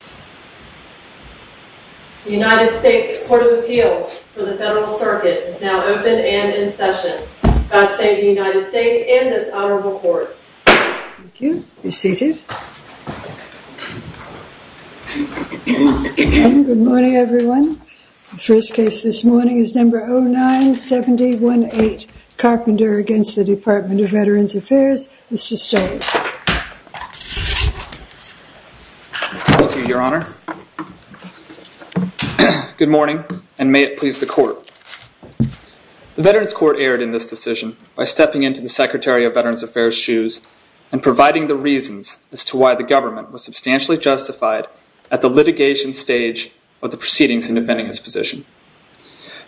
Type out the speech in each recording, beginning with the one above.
The United States Court of Appeals for the Federal Circuit is now open and in session. God save the United States and this Honorable Court. Thank you. Be seated. Good morning, everyone. The first case this morning is number 09718, Carpenter v. DVA. Mr. Stokes. Thank you, Your Honor. Good morning, and may it please the Court. The Veterans Court erred in this decision by stepping into the Secretary of Veterans Affairs' shoes and providing the reasons as to why the government was substantially justified at the litigation stage of the proceedings in defending his position.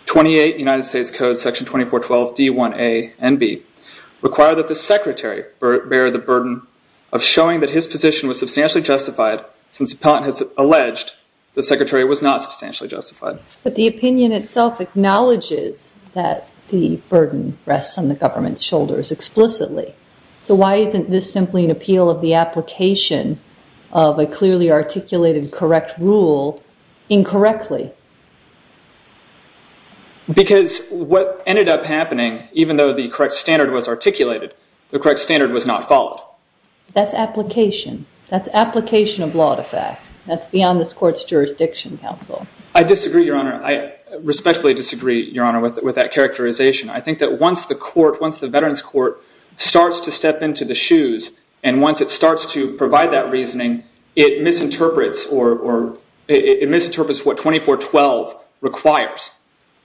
28 United States Code Section 2412D1A and B require that the Secretary bear the burden of showing that his position was substantially justified since Appellant has alleged the Secretary was not substantially justified. But the opinion itself acknowledges that the burden rests on the government's shoulders explicitly. So why isn't this simply an appeal of the application of a clearly articulated correct rule incorrectly? Because what ended up happening, even though the correct standard was articulated, the correct standard was not followed. That's application. That's application of law to fact. That's beyond this Court's jurisdiction, Counsel. I disagree, Your Honor. I respectfully disagree, Your Honor, with that characterization. I think that once the Veterans Court starts to step into the shoes and once it starts to provide that reasoning, it misinterprets what 2412 requires.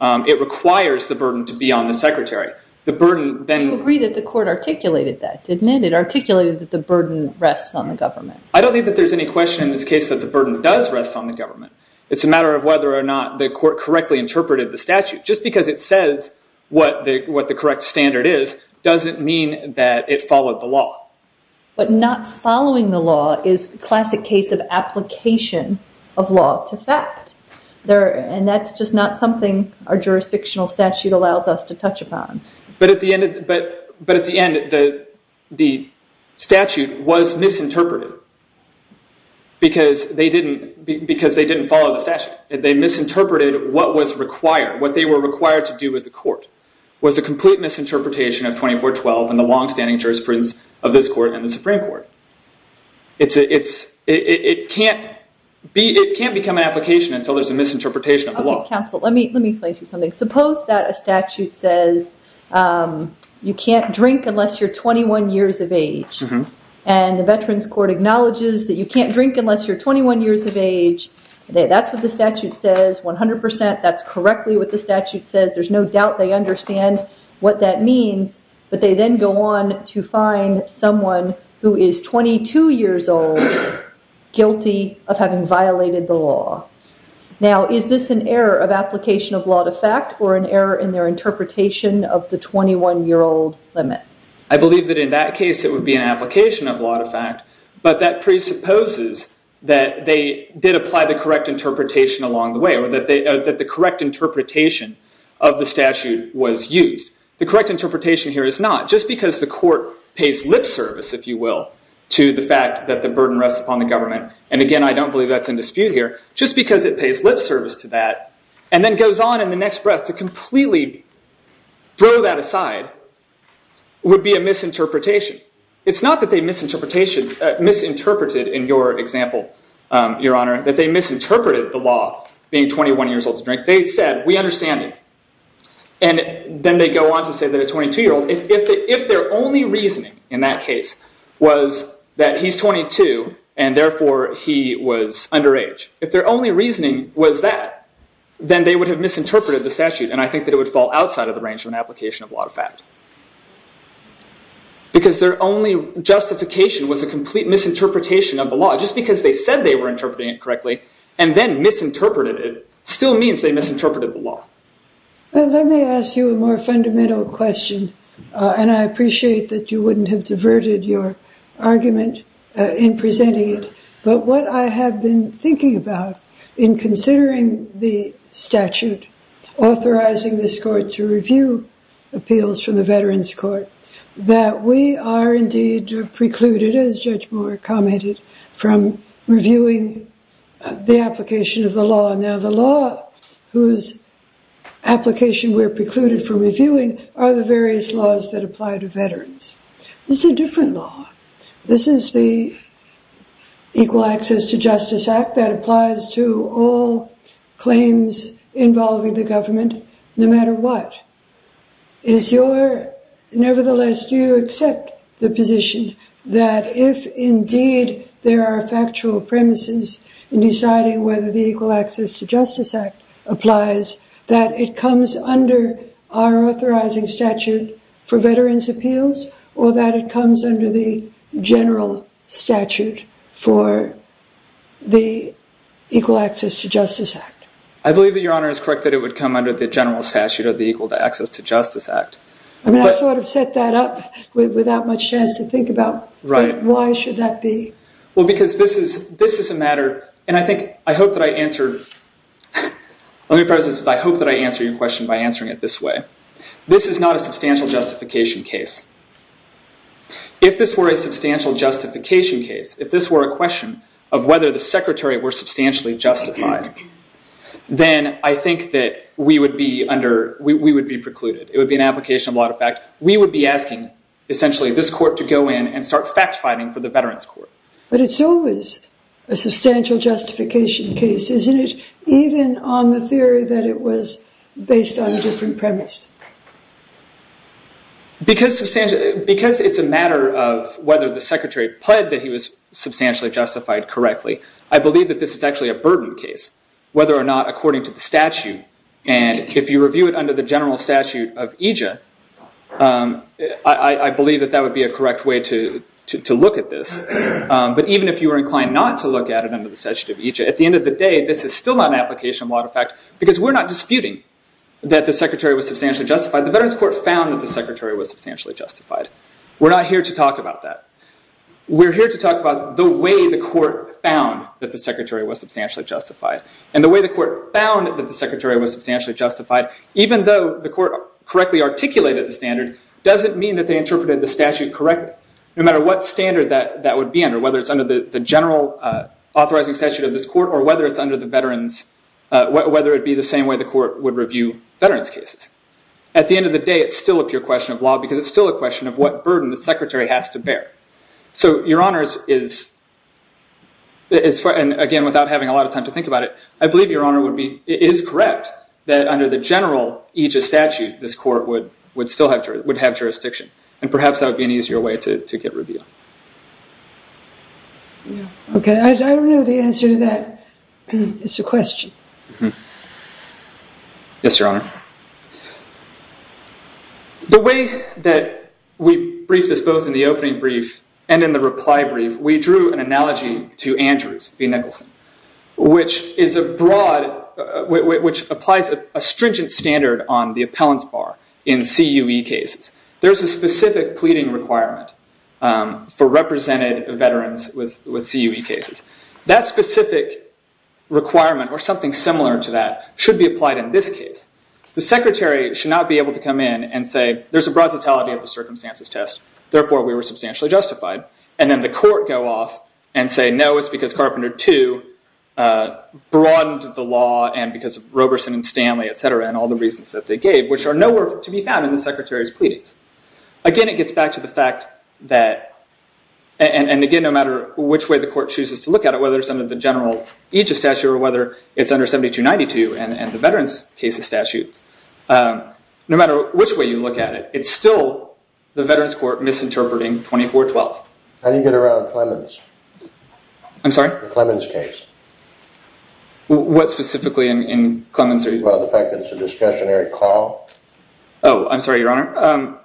It requires the burden to be on the Secretary. I agree that the Court articulated that, didn't it? It articulated that the burden rests on the government. I don't think that there's any question in this case that the burden does rest on the government. It's a matter of whether or not the Court correctly interpreted the statute. Just because it says what the correct standard is doesn't mean that it followed the law. But not following the law is the classic case of application of law to fact. And that's just not something our jurisdictional statute allows us to touch upon. But at the end, the statute was misinterpreted because they didn't follow the statute. They misinterpreted what was required, what they were required to do as a court, was a complete misinterpretation of 2412 and the longstanding jurisprudence of this Court and the Supreme Court. It can't become an application until there's a misinterpretation of the law. Okay, Counsel, let me explain to you something. Suppose that a statute says you can't drink unless you're 21 years of age. And the Veterans Court acknowledges that you can't drink unless you're 21 years of age. That's what the statute says 100%. That's correctly what the statute says. There's no doubt they understand what that means. But they then go on to find someone who is 22 years old guilty of having violated the law. Now, is this an error of application of law to fact or an error in their interpretation of the 21-year-old limit? I believe that in that case it would be an application of law to fact. But that presupposes that they did apply the correct interpretation along the way or that the correct interpretation of the statute was used. The correct interpretation here is not. Just because the court pays lip service, if you will, to the fact that the burden rests upon the government, and again, I don't believe that's in dispute here, just because it pays lip service to that and then goes on in the next breath to completely throw that aside would be a misinterpretation. It's not that they misinterpreted in your example, Your Honor, that they misinterpreted the law being 21 years old to drink. They said, we understand you. And then they go on to say that a 22-year-old, if their only reasoning in that case was that he's 22 and therefore he was underage, if their only reasoning was that, then they would have misinterpreted the statute. And I think that it would fall outside of the range of an application of law to fact. Because their only justification was a complete misinterpretation of the law. Just because they said they were interpreting it correctly and then misinterpreted it still means they misinterpreted the law. Well, let me ask you a more fundamental question, and I appreciate that you wouldn't have diverted your argument in presenting it, but what I have been thinking about in considering the statute authorizing this court to review appeals from the Veterans Court, that we are indeed precluded, as Judge Moore commented, from reviewing the application of the law. Now, the law whose application we're precluded from reviewing are the various laws that apply to veterans. This is a different law. This is the Equal Access to Justice Act that applies to all claims involving the government, no matter what. Nevertheless, do you accept the position that if indeed there are factual premises in deciding whether the Equal Access to Justice Act applies, that it comes under our authorizing statute for veterans' appeals, or that it comes under the general statute for the Equal Access to Justice Act? I believe that Your Honor is correct that it would come under the general statute of the Equal Access to Justice Act. I mean, I sort of set that up without much chance to think about why should that be. Well, because this is a matter, and I think, I hope that I answer, let me preface this with I hope that I answer your question by answering it this way. This is not a substantial justification case. If this were a substantial justification case, if this were a question of whether the secretary were substantially justified, then I think that we would be precluded. It would be an application of a lot of fact. We would be asking, essentially, this court to go in and start fact-finding for the veterans' court. But it's always a substantial justification case, isn't it, even on the theory that it was based on a different premise? Because it's a matter of whether the secretary pled that he was substantially justified correctly, I believe that this is actually a burden case, whether or not according to the statute. And if you review it under the general statute of EJA, I believe that that would be a correct way to look at this. But even if you were inclined not to look at it under the statute of EJA, at the end of the day, this is still not an application of a lot of fact because we're not disputing that the secretary was substantially justified. The Veterans' Court found that the secretary was substantially justified. We're not here to talk about that. We're here to talk about the way the court found that the secretary was substantially justified. And the way the court found that the secretary was substantially justified, even though the court correctly articulated the standard, doesn't mean that they interpreted the statute correctly. No matter what standard that would be under, whether it's under the general authorizing statute of this court or whether it's under the veterans, whether it be the same way the court would review veterans' cases. At the end of the day, it's still a pure question of law because it's still a question of what burden the secretary has to bear. So, Your Honors, and again, without having a lot of time to think about it, I believe Your Honor is correct that under the general Aegis statute, this court would still have jurisdiction, and perhaps that would be an easier way to get review. Okay, I don't know the answer to that. It's a question. Yes, Your Honor. The way that we briefed this, both in the opening brief and in the reply brief, we drew an analogy to Andrews v. Nicholson, which applies a stringent standard on the appellant's bar in CUE cases. There's a specific pleading requirement for represented veterans with CUE cases. That specific requirement, or something similar to that, should be applied in this case. The secretary should not be able to come in and say, there's a broad totality of the circumstances test, therefore we were substantially justified, and then the court go off and say, no, it's because Carpenter 2 broadened the law and because of Roberson and Stanley, et cetera, and all the reasons that they gave, which are nowhere to be found in the secretary's pleadings. Again, it gets back to the fact that, and again, no matter which way the court chooses to look at it, whether it's under the general aegis statute or whether it's under 7292 and the veterans case statute, no matter which way you look at it, it's still the veterans court misinterpreting 2412. How do you get around Clemens? The Clemens case. What specifically in Clemens are you talking about? The fact that it's a discretionary call? Oh, I'm sorry, your honor.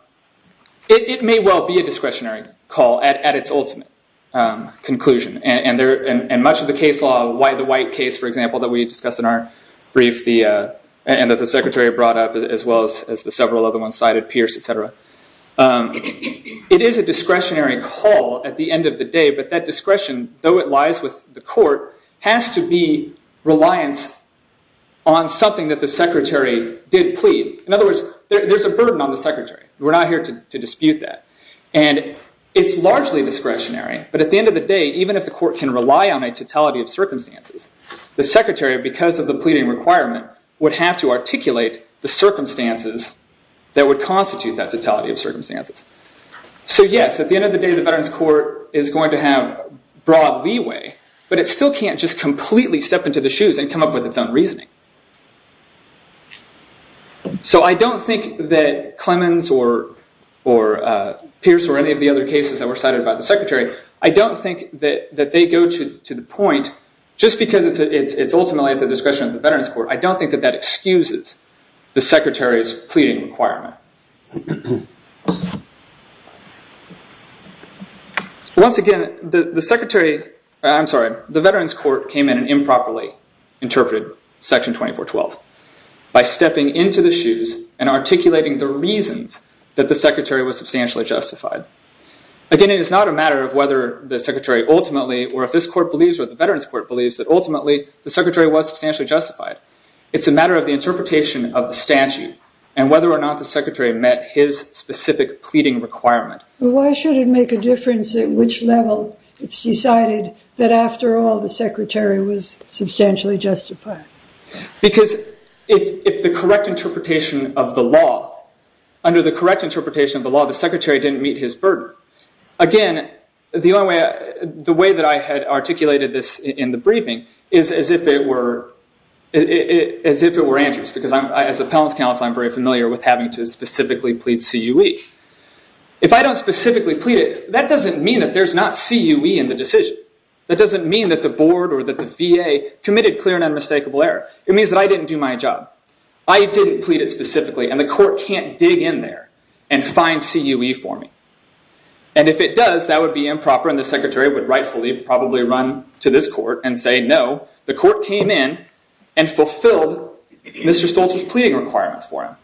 It may well be a discretionary call at its ultimate conclusion. And much of the case law, the White case, for example, that we discussed in our brief and that the secretary brought up as well as the several other ones cited, Pierce, et cetera, it is a discretionary call at the end of the day, but that discretion, though it lies with the court, has to be reliant on something that the secretary did plead. In other words, there's a burden on the secretary. We're not here to dispute that. And it's largely discretionary, but at the end of the day, even if the court can rely on a totality of circumstances, the secretary, because of the pleading requirement, would have to articulate the circumstances that would constitute that totality of circumstances. So yes, at the end of the day, the veterans court is going to have broad leeway, but it still can't just completely step into the shoes and come up with its own reasoning. So I don't think that Clemens or Pierce or any of the other cases that were cited by the secretary, I don't think that they go to the point, just because it's ultimately at the discretion of the veterans court, I don't think that that excuses the secretary's pleading requirement. Once again, the veterans court came in and improperly interpreted Section 2412 by stepping into the shoes and articulating the reasons that the secretary was substantially justified. Again, it is not a matter of whether the secretary ultimately, or if this court believes or the veterans court believes, that ultimately the secretary was substantially justified. It's a matter of the interpretation of the statute and whether or not the secretary met his specific pleading requirement. Why should it make a difference at which level it's decided that after all the secretary was substantially justified? Because if the correct interpretation of the law, under the correct interpretation of the law, the secretary didn't meet his burden. Again, the way that I had articulated this in the briefing is as if it were answers, because as appellant's counsel I'm very familiar with having to specifically plead CUE. If I don't specifically plead it, that doesn't mean that there's not CUE in the decision. That doesn't mean that the board or that the VA committed clear and unmistakable error. It means that I didn't do my job. I didn't plead it specifically and the court can't dig in there and find CUE for me. And if it does, that would be improper and the secretary would rightfully probably run to this court and say no, the court came in and fulfilled Mr. Stolz's pleading requirement for him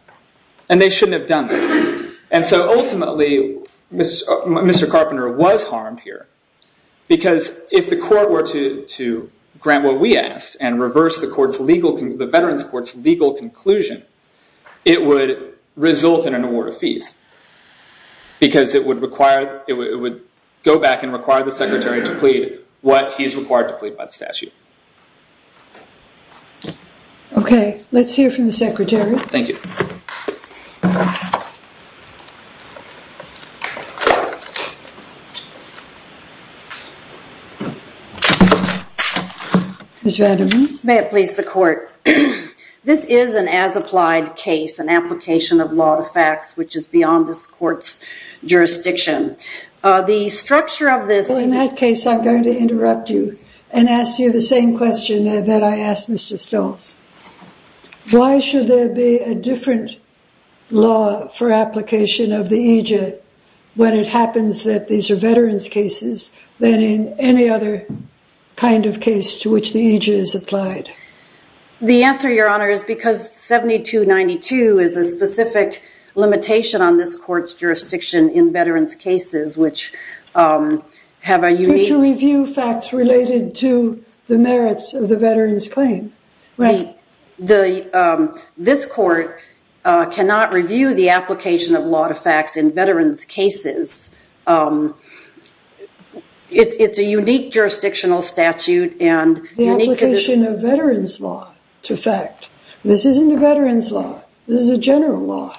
and they shouldn't have done that. And so ultimately, Mr. Carpenter was harmed here because if the court were to grant what we asked and reverse the veterans court's legal conclusion, it would result in an award of fees because it would go back and require the secretary to plead what he's required to plead by the statute. Okay. Let's hear from the secretary. Thank you. Ms. Rademan. May it please the court. This is an as-applied case, an application of law to facts, which is beyond this court's jurisdiction. The structure of this... In that case, I'm going to interrupt you and ask you the same question that I asked Mr. Stolz. Why should there be a different law for application of the EJ when it happens that these are veterans' cases than in any other kind of case to which the EJ is applied? The answer, Your Honor, is because 7292 is a specific limitation on this court's jurisdiction in veterans' cases, which have a unique... To review facts related to the merits of the veterans' claim. Right. This court cannot review the application of law to facts in veterans' cases. It's a unique jurisdictional statute and... The application of veterans' law to fact. This isn't a veterans' law. This is a general law.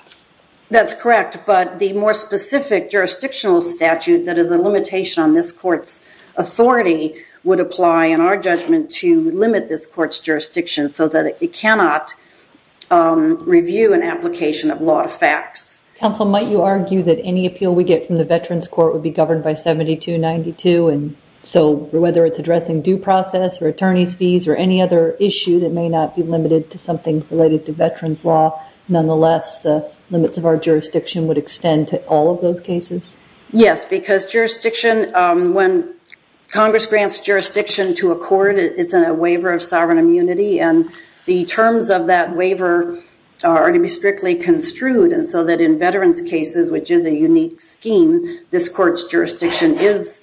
That's correct, but the more specific jurisdictional statute that is a limitation on this court's authority would apply, in our judgment, to limit this court's jurisdiction so that it cannot review an application of law to facts. Counsel, might you argue that any appeal we get from the veterans' court would be governed by 7292, and so whether it's addressing due process or attorney's fees related to veterans' law, nonetheless, the limits of our jurisdiction would extend to all of those cases? Yes, because jurisdiction... When Congress grants jurisdiction to a court, it's a waiver of sovereign immunity, and the terms of that waiver are to be strictly construed, and so that in veterans' cases, which is a unique scheme, this court's jurisdiction is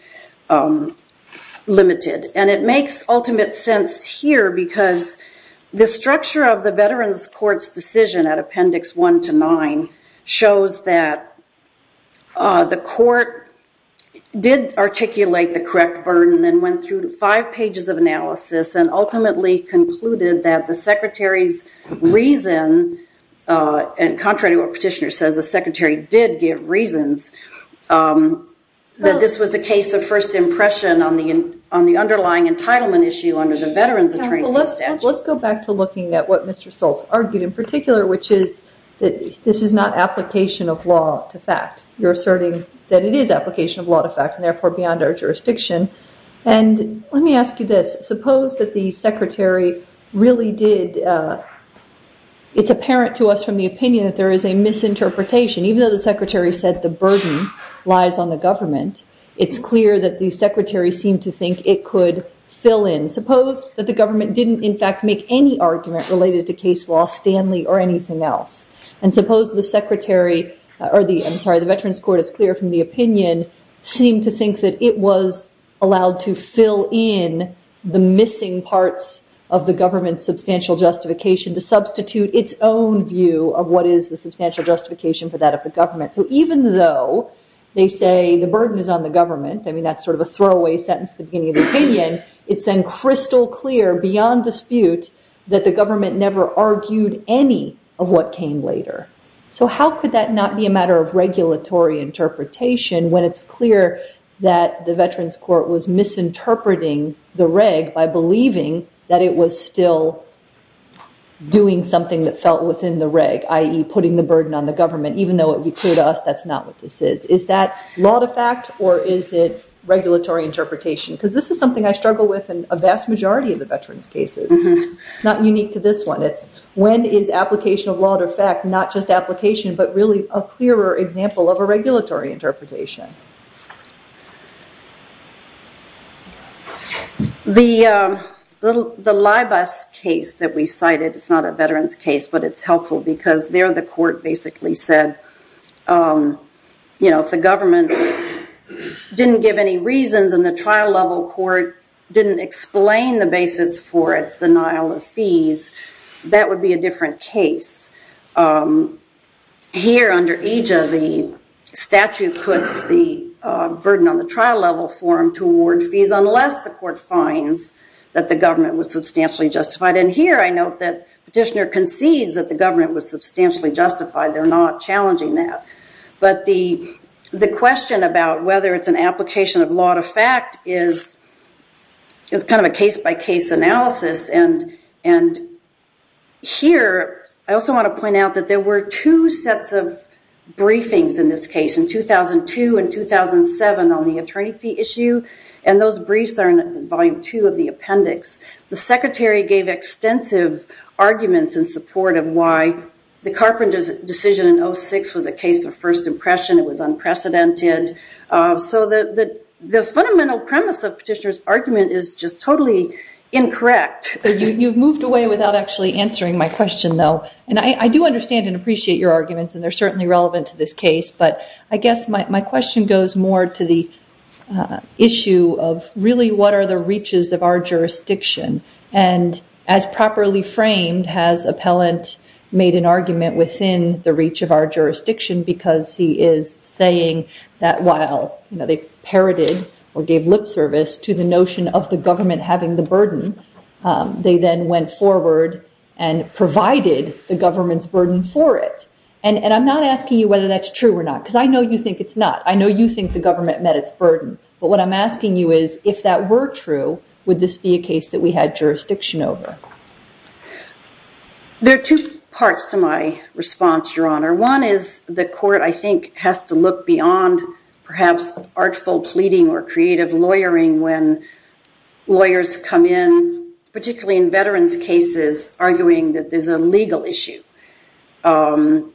limited. And it makes ultimate sense here because the structure of the veterans' court's decision at Appendix 1 to 9 shows that the court did articulate the correct burden and went through five pages of analysis and ultimately concluded that the secretary's reason, contrary to what Petitioner says, the secretary did give reasons, that this was a case of first impression on the underlying entitlement issue Let's go back to looking at what Mr Stoltz argued in particular, which is that this is not application of law to fact. You're asserting that it is application of law to fact and therefore beyond our jurisdiction. And let me ask you this. Suppose that the secretary really did... It's apparent to us from the opinion that there is a misinterpretation. Even though the secretary said the burden lies on the government, it's clear that the secretary seemed to think it could fill in. And suppose that the government didn't in fact make any argument related to case law, Stanley, or anything else. And suppose the secretary... I'm sorry, the veterans' court, it's clear from the opinion, seemed to think that it was allowed to fill in the missing parts of the government's substantial justification to substitute its own view of what is the substantial justification for that of the government. So even though they say the burden is on the government, I mean, that's sort of a throwaway sentence at the beginning of the opinion, it's then crystal clear beyond dispute that the government never argued any of what came later. So how could that not be a matter of regulatory interpretation when it's clear that the veterans' court was misinterpreting the reg by believing that it was still doing something that felt within the reg, i.e. putting the burden on the government, even though it would be clear to us that's not what this is. Is that law to fact or is it regulatory interpretation? Because this is something I struggle with in a vast majority of the veterans' cases. It's not unique to this one. It's when is application of law to fact not just application but really a clearer example of a regulatory interpretation. The Libas case that we cited, it's not a veterans' case, but it's helpful because there the court basically said, you know, if the government didn't give any reasons and the trial-level court didn't explain the basis for its denial of fees, that would be a different case. Here under AJA, the statute puts the burden on the trial-level forum to award fees unless the court finds that the government was substantially justified. And here I note that Petitioner concedes that the government was substantially justified. They're not challenging that. But the question about whether it's an application of law to fact is kind of a case-by-case analysis. And here I also want to point out that there were two sets of briefings in this case, in 2002 and 2007 on the attorney fee issue. And those briefs are in volume two of the appendix. The secretary gave extensive arguments in support of why the Carpenter's decision in 2006 was a case of first impression. It was unprecedented. So the fundamental premise of Petitioner's argument is just totally incorrect. You've moved away without actually answering my question, though. And I do understand and appreciate your arguments, and they're certainly relevant to this case. But I guess my question goes more to the issue of, really, what are the reaches of our jurisdiction? And as properly framed, has Appellant made an argument within the reach of our jurisdiction because he is saying that while they parroted or gave lip service to the notion of the government having the burden, they then went forward and provided the government's burden for it. And I'm not asking you whether that's true or not, because I know you think it's not. I know you think the government met its burden. But what I'm asking you is, if that were true, would this be a case that we had jurisdiction over? There are two parts to my response, Your Honor. One is the court, I think, has to look beyond perhaps artful pleading or creative lawyering when lawyers come in, particularly in veterans' cases, arguing that there's a legal issue. And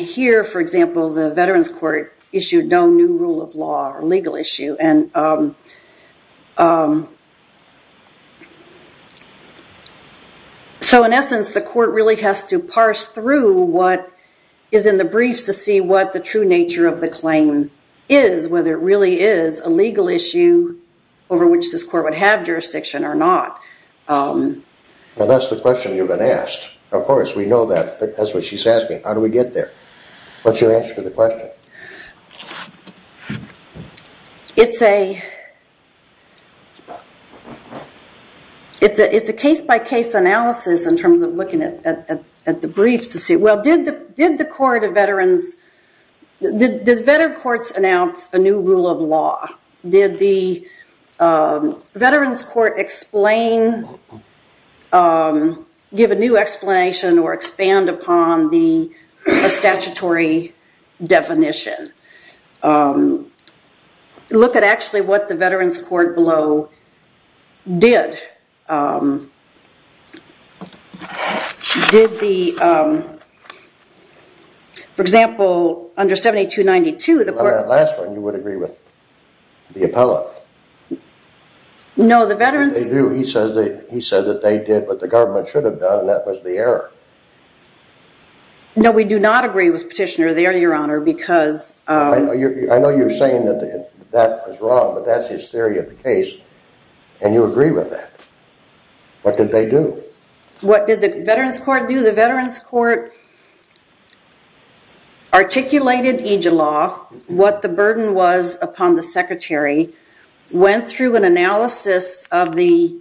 here, for example, the veterans' court issued no new rule of law or legal issue. So in essence, the court really has to parse through what is in the briefs to see what the true nature of the claim is, whether it really is a legal issue over which this court would have jurisdiction or not. Well, that's the question you've been asked. Of course, we know that. That's what she's asking. How do we get there? What's your answer to the question? It's a case-by-case analysis in terms of looking at the briefs to see, well, did the court of veterans, did veterans' courts announce a new rule of law? Did the veterans' court explain, give a new explanation or expand upon the statutory definition? Look at actually what the veterans' court below did. Did the, for example, under 7292, the court- On that last one, you would agree with the appellate. No, the veterans- He said that they did what the government should have done, and that was the error. No, we do not agree with Petitioner there, Your Honor, because- I know you're saying that that was wrong, but that's his theory of the case, and you agree with that. What did they do? What did the veterans' court do? The veterans' court articulated each law, what the burden was upon the secretary, went through an analysis of the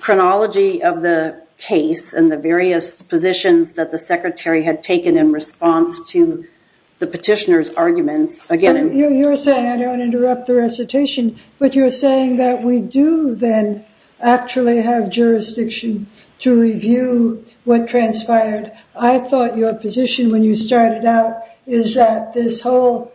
chronology of the case and the various positions that the secretary had taken in response to the petitioner's arguments. Again- You're saying, I don't want to interrupt the recitation, but you're saying that we do then actually have jurisdiction to review what transpired. I thought your position when you started out is that this whole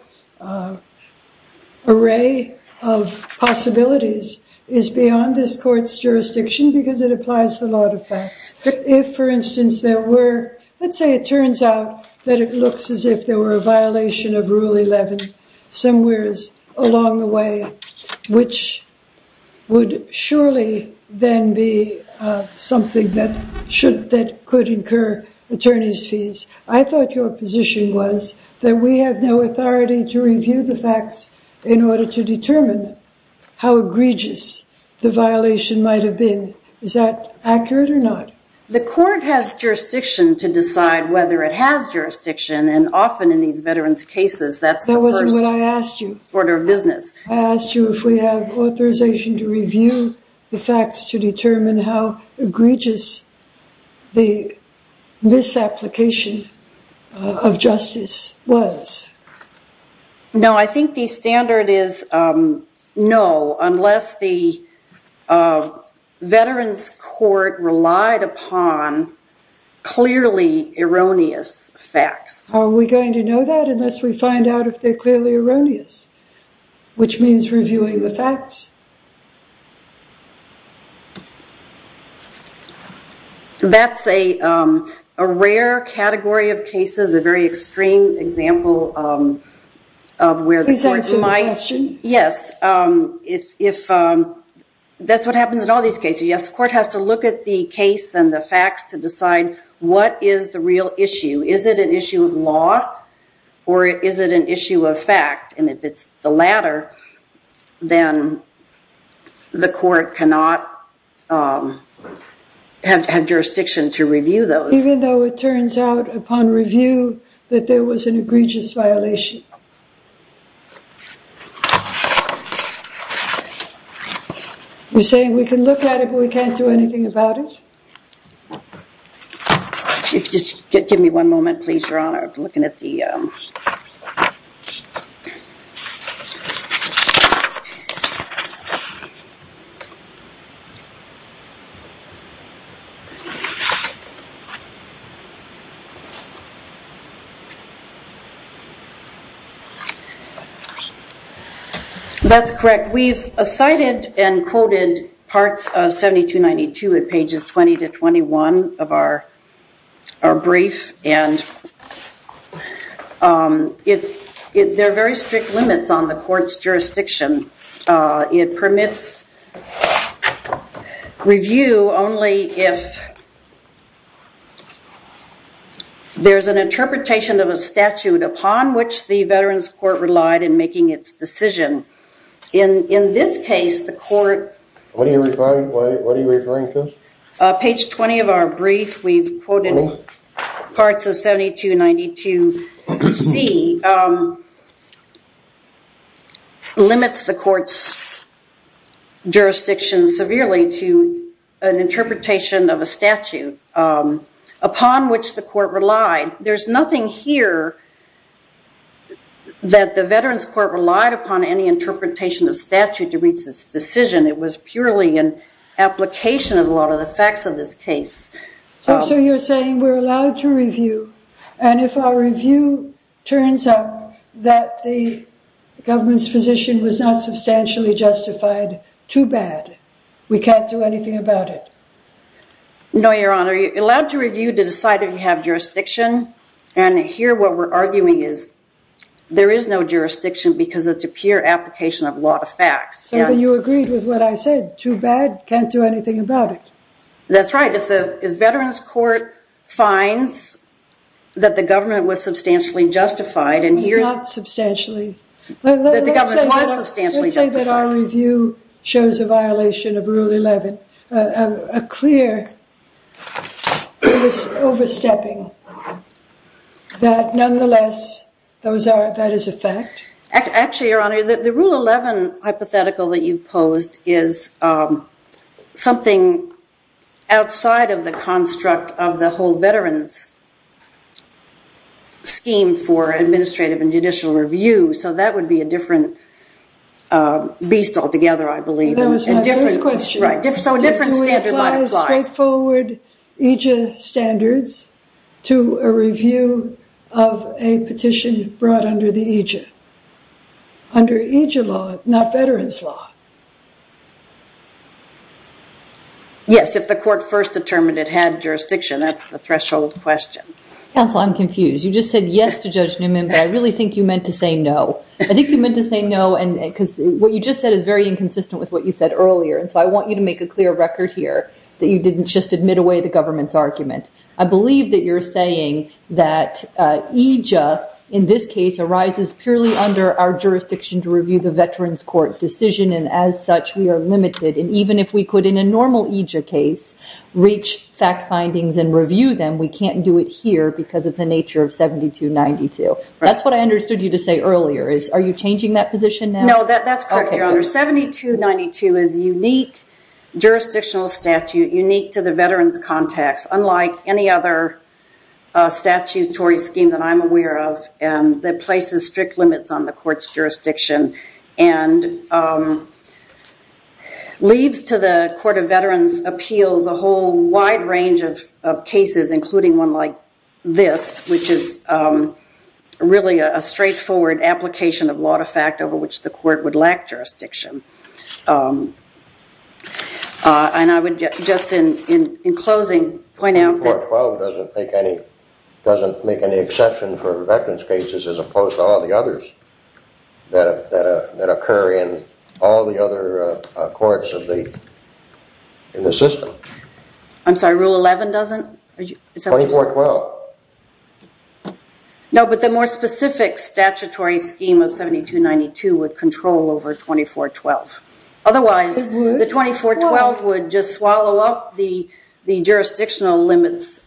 array of possibilities is beyond this court's jurisdiction because it applies to a lot of facts. If, for instance, there were- Let's say it turns out that it looks as if there were a violation of Rule 11 somewhere along the way, which would surely then be something that could incur attorney's fees. I thought your position was that we have no authority to review the facts in order to determine how egregious the violation might have been. Is that accurate or not? The court has jurisdiction to decide whether it has jurisdiction, and often in these veterans' cases, that's the first- That wasn't what I asked you. Order of business. I asked you if we have authorization to review the facts to determine how egregious the misapplication of justice was. No, I think the standard is no, unless the veterans' court relied upon clearly erroneous facts. Are we going to know that unless we find out if they're clearly erroneous, which means reviewing the facts? That's a rare category of cases, a very extreme example of where the court might- Please answer the question. Yes. That's what happens in all these cases. Yes, the court has to look at the case and the facts to decide what is the real issue. Is it an issue of law or is it an issue of fact? If it's the latter, then the court cannot have jurisdiction to review those. Even though it turns out upon review that there was an egregious violation? You're saying we can look at it, but we can't do anything about it? Just give me one moment, please, Your Honor. That's correct. We've cited and quoted parts of 7292 at pages 20 to 21 of our brief, and there are very strict limits on the court's jurisdiction. It permits review only if there's an interpretation of a statute upon which the veterans' court relied in making its decision. In this case, the court- What are you referring to? Page 20 of our brief, we've quoted parts of 7292C, limits the court's jurisdiction severely to an interpretation of a statute upon which the court relied. There's nothing here that the veterans' court relied upon any interpretation of statute to reach this decision. It was purely an application of a lot of the facts of this case. So you're saying we're allowed to review, and if our review turns out that the government's position was not substantially justified, too bad. We can't do anything about it? No, Your Honor. You're allowed to review to decide if you have jurisdiction, and here what we're arguing is there is no jurisdiction because it's a pure application of a lot of facts. So then you agreed with what I said, too bad, can't do anything about it. That's right. If the veterans' court finds that the government was substantially justified- It's not substantially. That the government was substantially justified. I would say that our review shows a violation of Rule 11, a clear overstepping that, nonetheless, that is a fact. Actually, Your Honor, the Rule 11 hypothetical that you've posed is something outside of the construct of the whole veterans' scheme for administrative and judicial review. So that would be a different beast altogether, I believe. That was my first question. So a different standard might apply. Do we apply straightforward EJIA standards to a review of a petition brought under the EJIA? Under EJIA law, not veterans' law. Yes, if the court first determined it had jurisdiction, that's the threshold question. Counsel, I'm confused. You just said yes to Judge Newman, but I really think you meant to say no. I think you meant to say no because what you just said is very inconsistent with what you said earlier. And so I want you to make a clear record here that you didn't just admit away the government's argument. I believe that you're saying that EJIA, in this case, arises purely under our jurisdiction to review the veterans' court decision. And as such, we are limited. And even if we could, in a normal EJIA case, reach fact findings and review them, we can't do it here because of the nature of 7292. That's what I understood you to say earlier. Are you changing that position now? No, that's correct, Your Honor. 7292 is a unique jurisdictional statute, unique to the veterans' context, unlike any other statutory scheme that I'm aware of that places strict limits on the court's jurisdiction. And leaves to the Court of Veterans' Appeals a whole wide range of cases, including one like this, which is really a straightforward application of law to fact over which the court would lack jurisdiction. And I would just, in closing, point out that- 7292 doesn't make any exception for veterans' cases as opposed to all the others that occur in all the other courts in the system. I'm sorry, Rule 11 doesn't? 2412. No, but the more specific statutory scheme of 7292 would control over 2412. Otherwise, the 2412 would just swallow up the jurisdictional limits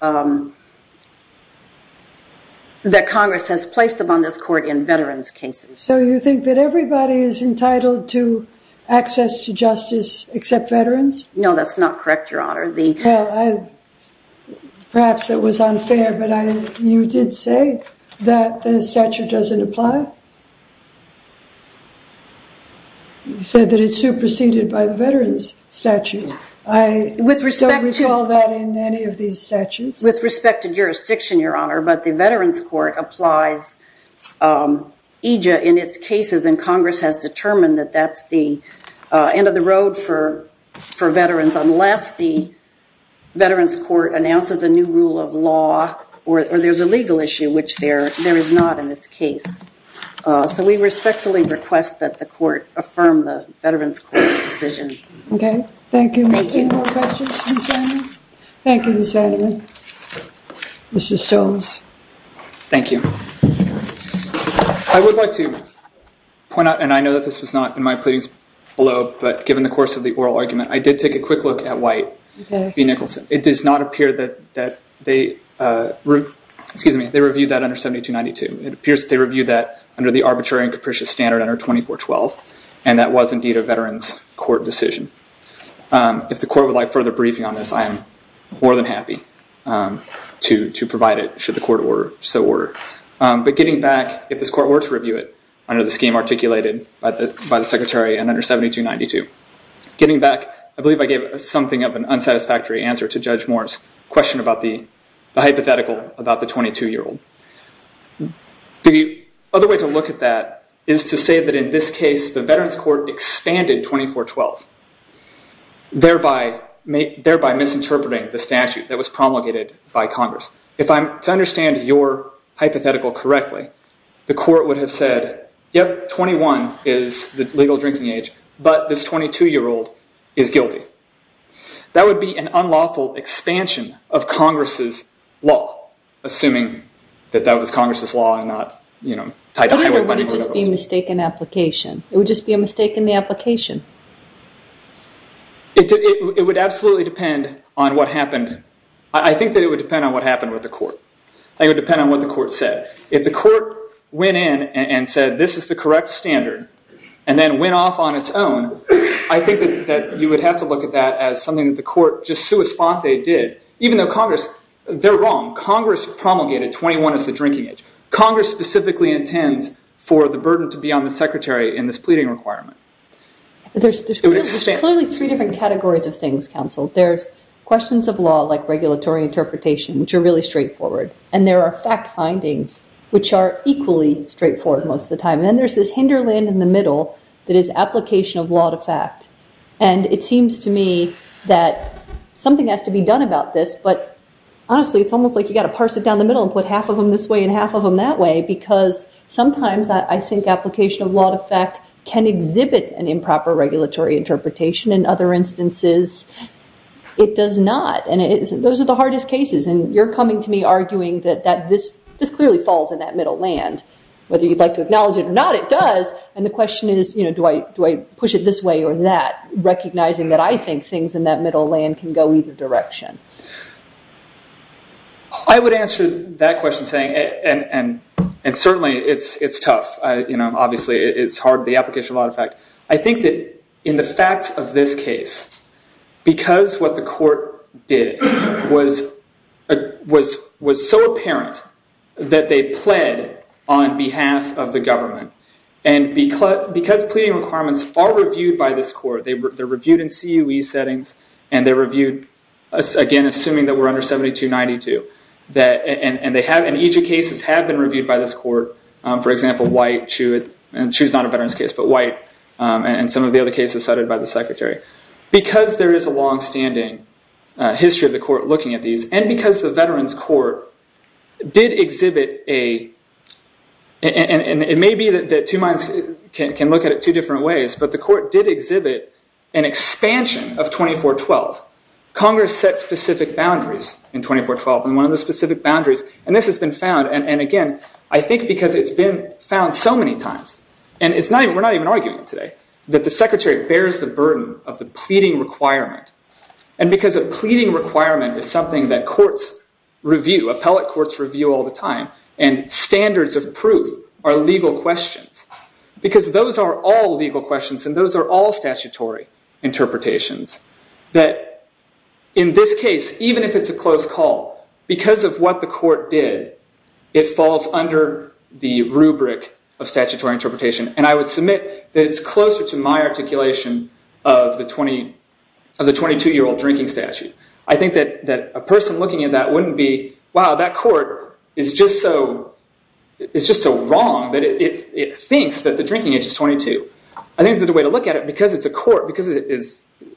that Congress has placed upon this court in veterans' cases. So you think that everybody is entitled to access to justice except veterans? No, that's not correct, Your Honor. Perhaps it was unfair, but you did say that the statute doesn't apply? You said that it's superseded by the veterans statute. I don't recall that in any of these statutes. With respect to jurisdiction, Your Honor, but the Veterans Court applies EJIA in its cases, and Congress has determined that that's the end of the road for veterans, unless the Veterans Court announces a new rule of law or there's a legal issue, which there is not in this case. So we respectfully request that the Court affirm the Veterans Court's decision. Okay, thank you. Any more questions, Ms. Vanderman? Thank you, Ms. Vanderman. Mr. Stolz. Thank you. I would like to point out, and I know that this was not in my pleadings below, but given the course of the oral argument, I did take a quick look at White v. Nicholson. It does not appear that they reviewed that under 7292. It appears that they reviewed that under the arbitrary and capricious standard under 2412, and that was indeed a Veterans Court decision. If the Court would like further briefing on this, I am more than happy to provide it, should the Court so order. But getting back, if this Court were to review it under the scheme articulated by the Secretary and under 7292, getting back, I believe I gave something of an unsatisfactory answer to Judge Moore's question about the hypothetical about the 22-year-old. The other way to look at that is to say that in this case the Veterans Court expanded 2412, thereby misinterpreting the statute that was promulgated by Congress. If I'm to understand your hypothetical correctly, the Court would have said, yep, 21 is the legal drinking age, but this 22-year-old is guilty. That would be an unlawful expansion of Congress's law, assuming that that was Congress's law and not, you know, tied to highway funding. Or would it just be a mistaken application? It would just be a mistake in the application. It would absolutely depend on what happened. I think that it would depend on what happened with the Court. I think it would depend on what the Court said. If the Court went in and said this is the correct standard and then went off on its own, I think that you would have to look at that as something that the Court just sua sponte did. Even though Congress, they're wrong. Congress promulgated 21 as the drinking age. Congress specifically intends for the burden to be on the Secretary in this pleading requirement. There's clearly three different categories of things, counsel. There's questions of law, like regulatory interpretation, which are really straightforward. And there are fact findings, which are equally straightforward most of the time. And then there's this hinderland in the middle that is application of law to fact. And it seems to me that something has to be done about this. But honestly, it's almost like you've got to parse it down the middle and put half of them this way and half of them that way, because sometimes I think application of law to fact can exhibit an improper regulatory interpretation. In other instances, it does not. And those are the hardest cases. And you're coming to me arguing that this clearly falls in that middle land. Whether you'd like to acknowledge it or not, it does. And the question is, do I push it this way or that, recognizing that I think things in that middle land can go either direction. I would answer that question saying, and certainly it's tough. Obviously, it's hard, the application of law to fact. I think that in the facts of this case, because what the court did was so apparent that they pled on behalf of the government. And because pleading requirements are reviewed by this court, they're reviewed in CUE settings. And they're reviewed, again, assuming that we're under 7292. And each of the cases have been reviewed by this court. For example, White, CUE, and CUE's not a veterans case, but White, and some of the other cases cited by the secretary. Because there is a longstanding history of the court looking at these, and because the veterans court did exhibit a, and it may be that two minds can look at it two different ways, but the court did exhibit an expansion of 2412. Congress set specific boundaries in 2412. And one of the specific boundaries, and this has been found, and again, I think because it's been found so many times, and we're not even arguing today, that the secretary bears the burden of the pleading requirement. And because a pleading requirement is something that courts review, appellate courts review all the time, and standards of proof are legal questions. Because those are all legal questions, and those are all statutory interpretations. That in this case, even if it's a close call, because of what the court did, it falls under the rubric of statutory interpretation. And I would submit that it's closer to my articulation of the 22-year-old drinking statute. I think that a person looking at that wouldn't be, wow, that court is just so wrong that it thinks that the drinking age is 22. I think that the way to look at it, because it's a court, because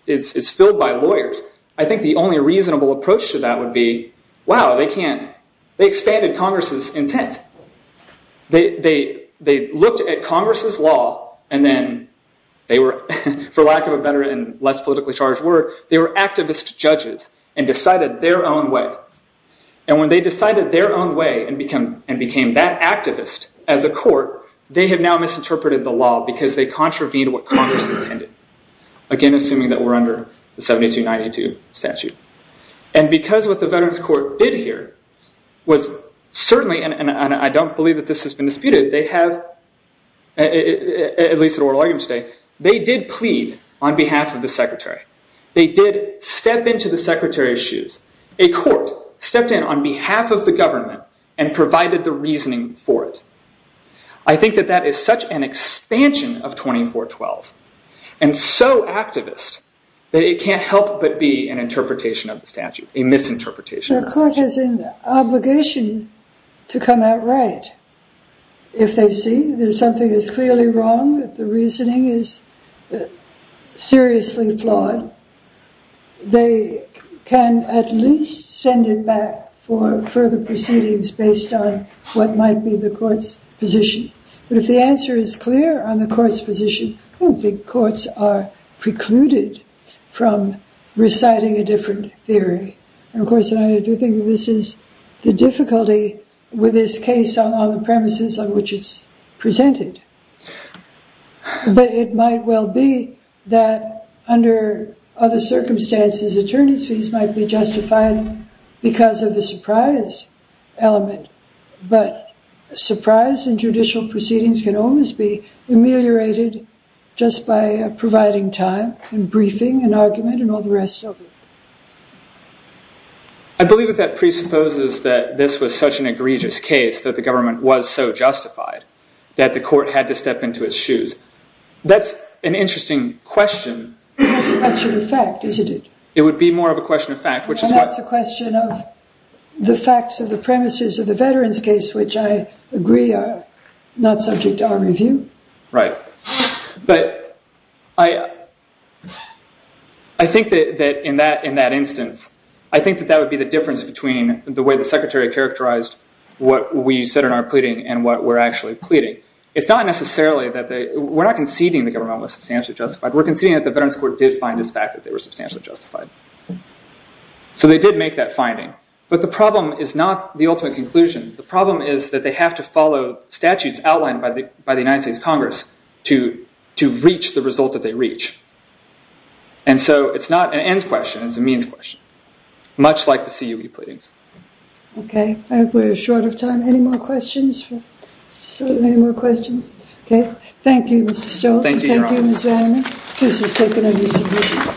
it's filled by lawyers, I think the only reasonable approach to that would be, wow, they expanded Congress's intent. They looked at Congress's law, and then they were, for lack of a better and less politically charged word, they were activist judges and decided their own way. And when they decided their own way and became that activist as a court, they have now misinterpreted the law because they contravened what Congress intended. Again, assuming that we're under the 7292 statute. And because what the Veterans Court did here was certainly, and I don't believe that this has been disputed, they have, at least at oral argument today, they did plead on behalf of the Secretary. They did step into the Secretary's shoes. A court stepped in on behalf of the government and provided the reasoning for it. I think that that is such an expansion of 2412, and so activist, that it can't help but be an interpretation of the statute, a misinterpretation of the statute. The court has an obligation to come out right. If they see that something is clearly wrong, that the reasoning is seriously flawed, they can at least send it back for further proceedings based on what might be the court's position. But if the answer is clear on the court's position, I don't think courts are precluded from reciting a different theory. Of course, I do think this is the difficulty with this case on all the premises on which it's presented. But it might well be that under other circumstances, attorneys' fees might be justified because of the surprise element. But surprise in judicial proceedings can almost be ameliorated just by providing time and briefing and argument and all the rest of it. I believe that that presupposes that this was such an egregious case that the government was so justified that the court had to step into its shoes. That's an interesting question. It's a question of fact, isn't it? It would be more of a question of fact, which is what? And that's a question of the facts of the premises of the veterans' case, which I agree are not subject to our review. Right. But I think that in that instance, I think that that would be the difference between the way the Secretary characterized what we said in our pleading and what we're actually pleading. It's not necessarily that they... We're not conceding the government was substantially justified. We're conceding that the Veterans Court did find this fact that they were substantially justified. So they did make that finding. But the problem is not the ultimate conclusion. The problem is that they have to follow statutes outlined by the United States Congress to reach the result that they reach. And so it's not an ends question. It's a means question, much like the CUE pleadings. Okay. We're short of time. Any more questions? So, any more questions? Okay. Thank you, Mr. Stolz. Thank you, Your Honor. Thank you, Ms. Vandermeer. This has taken a recent meeting.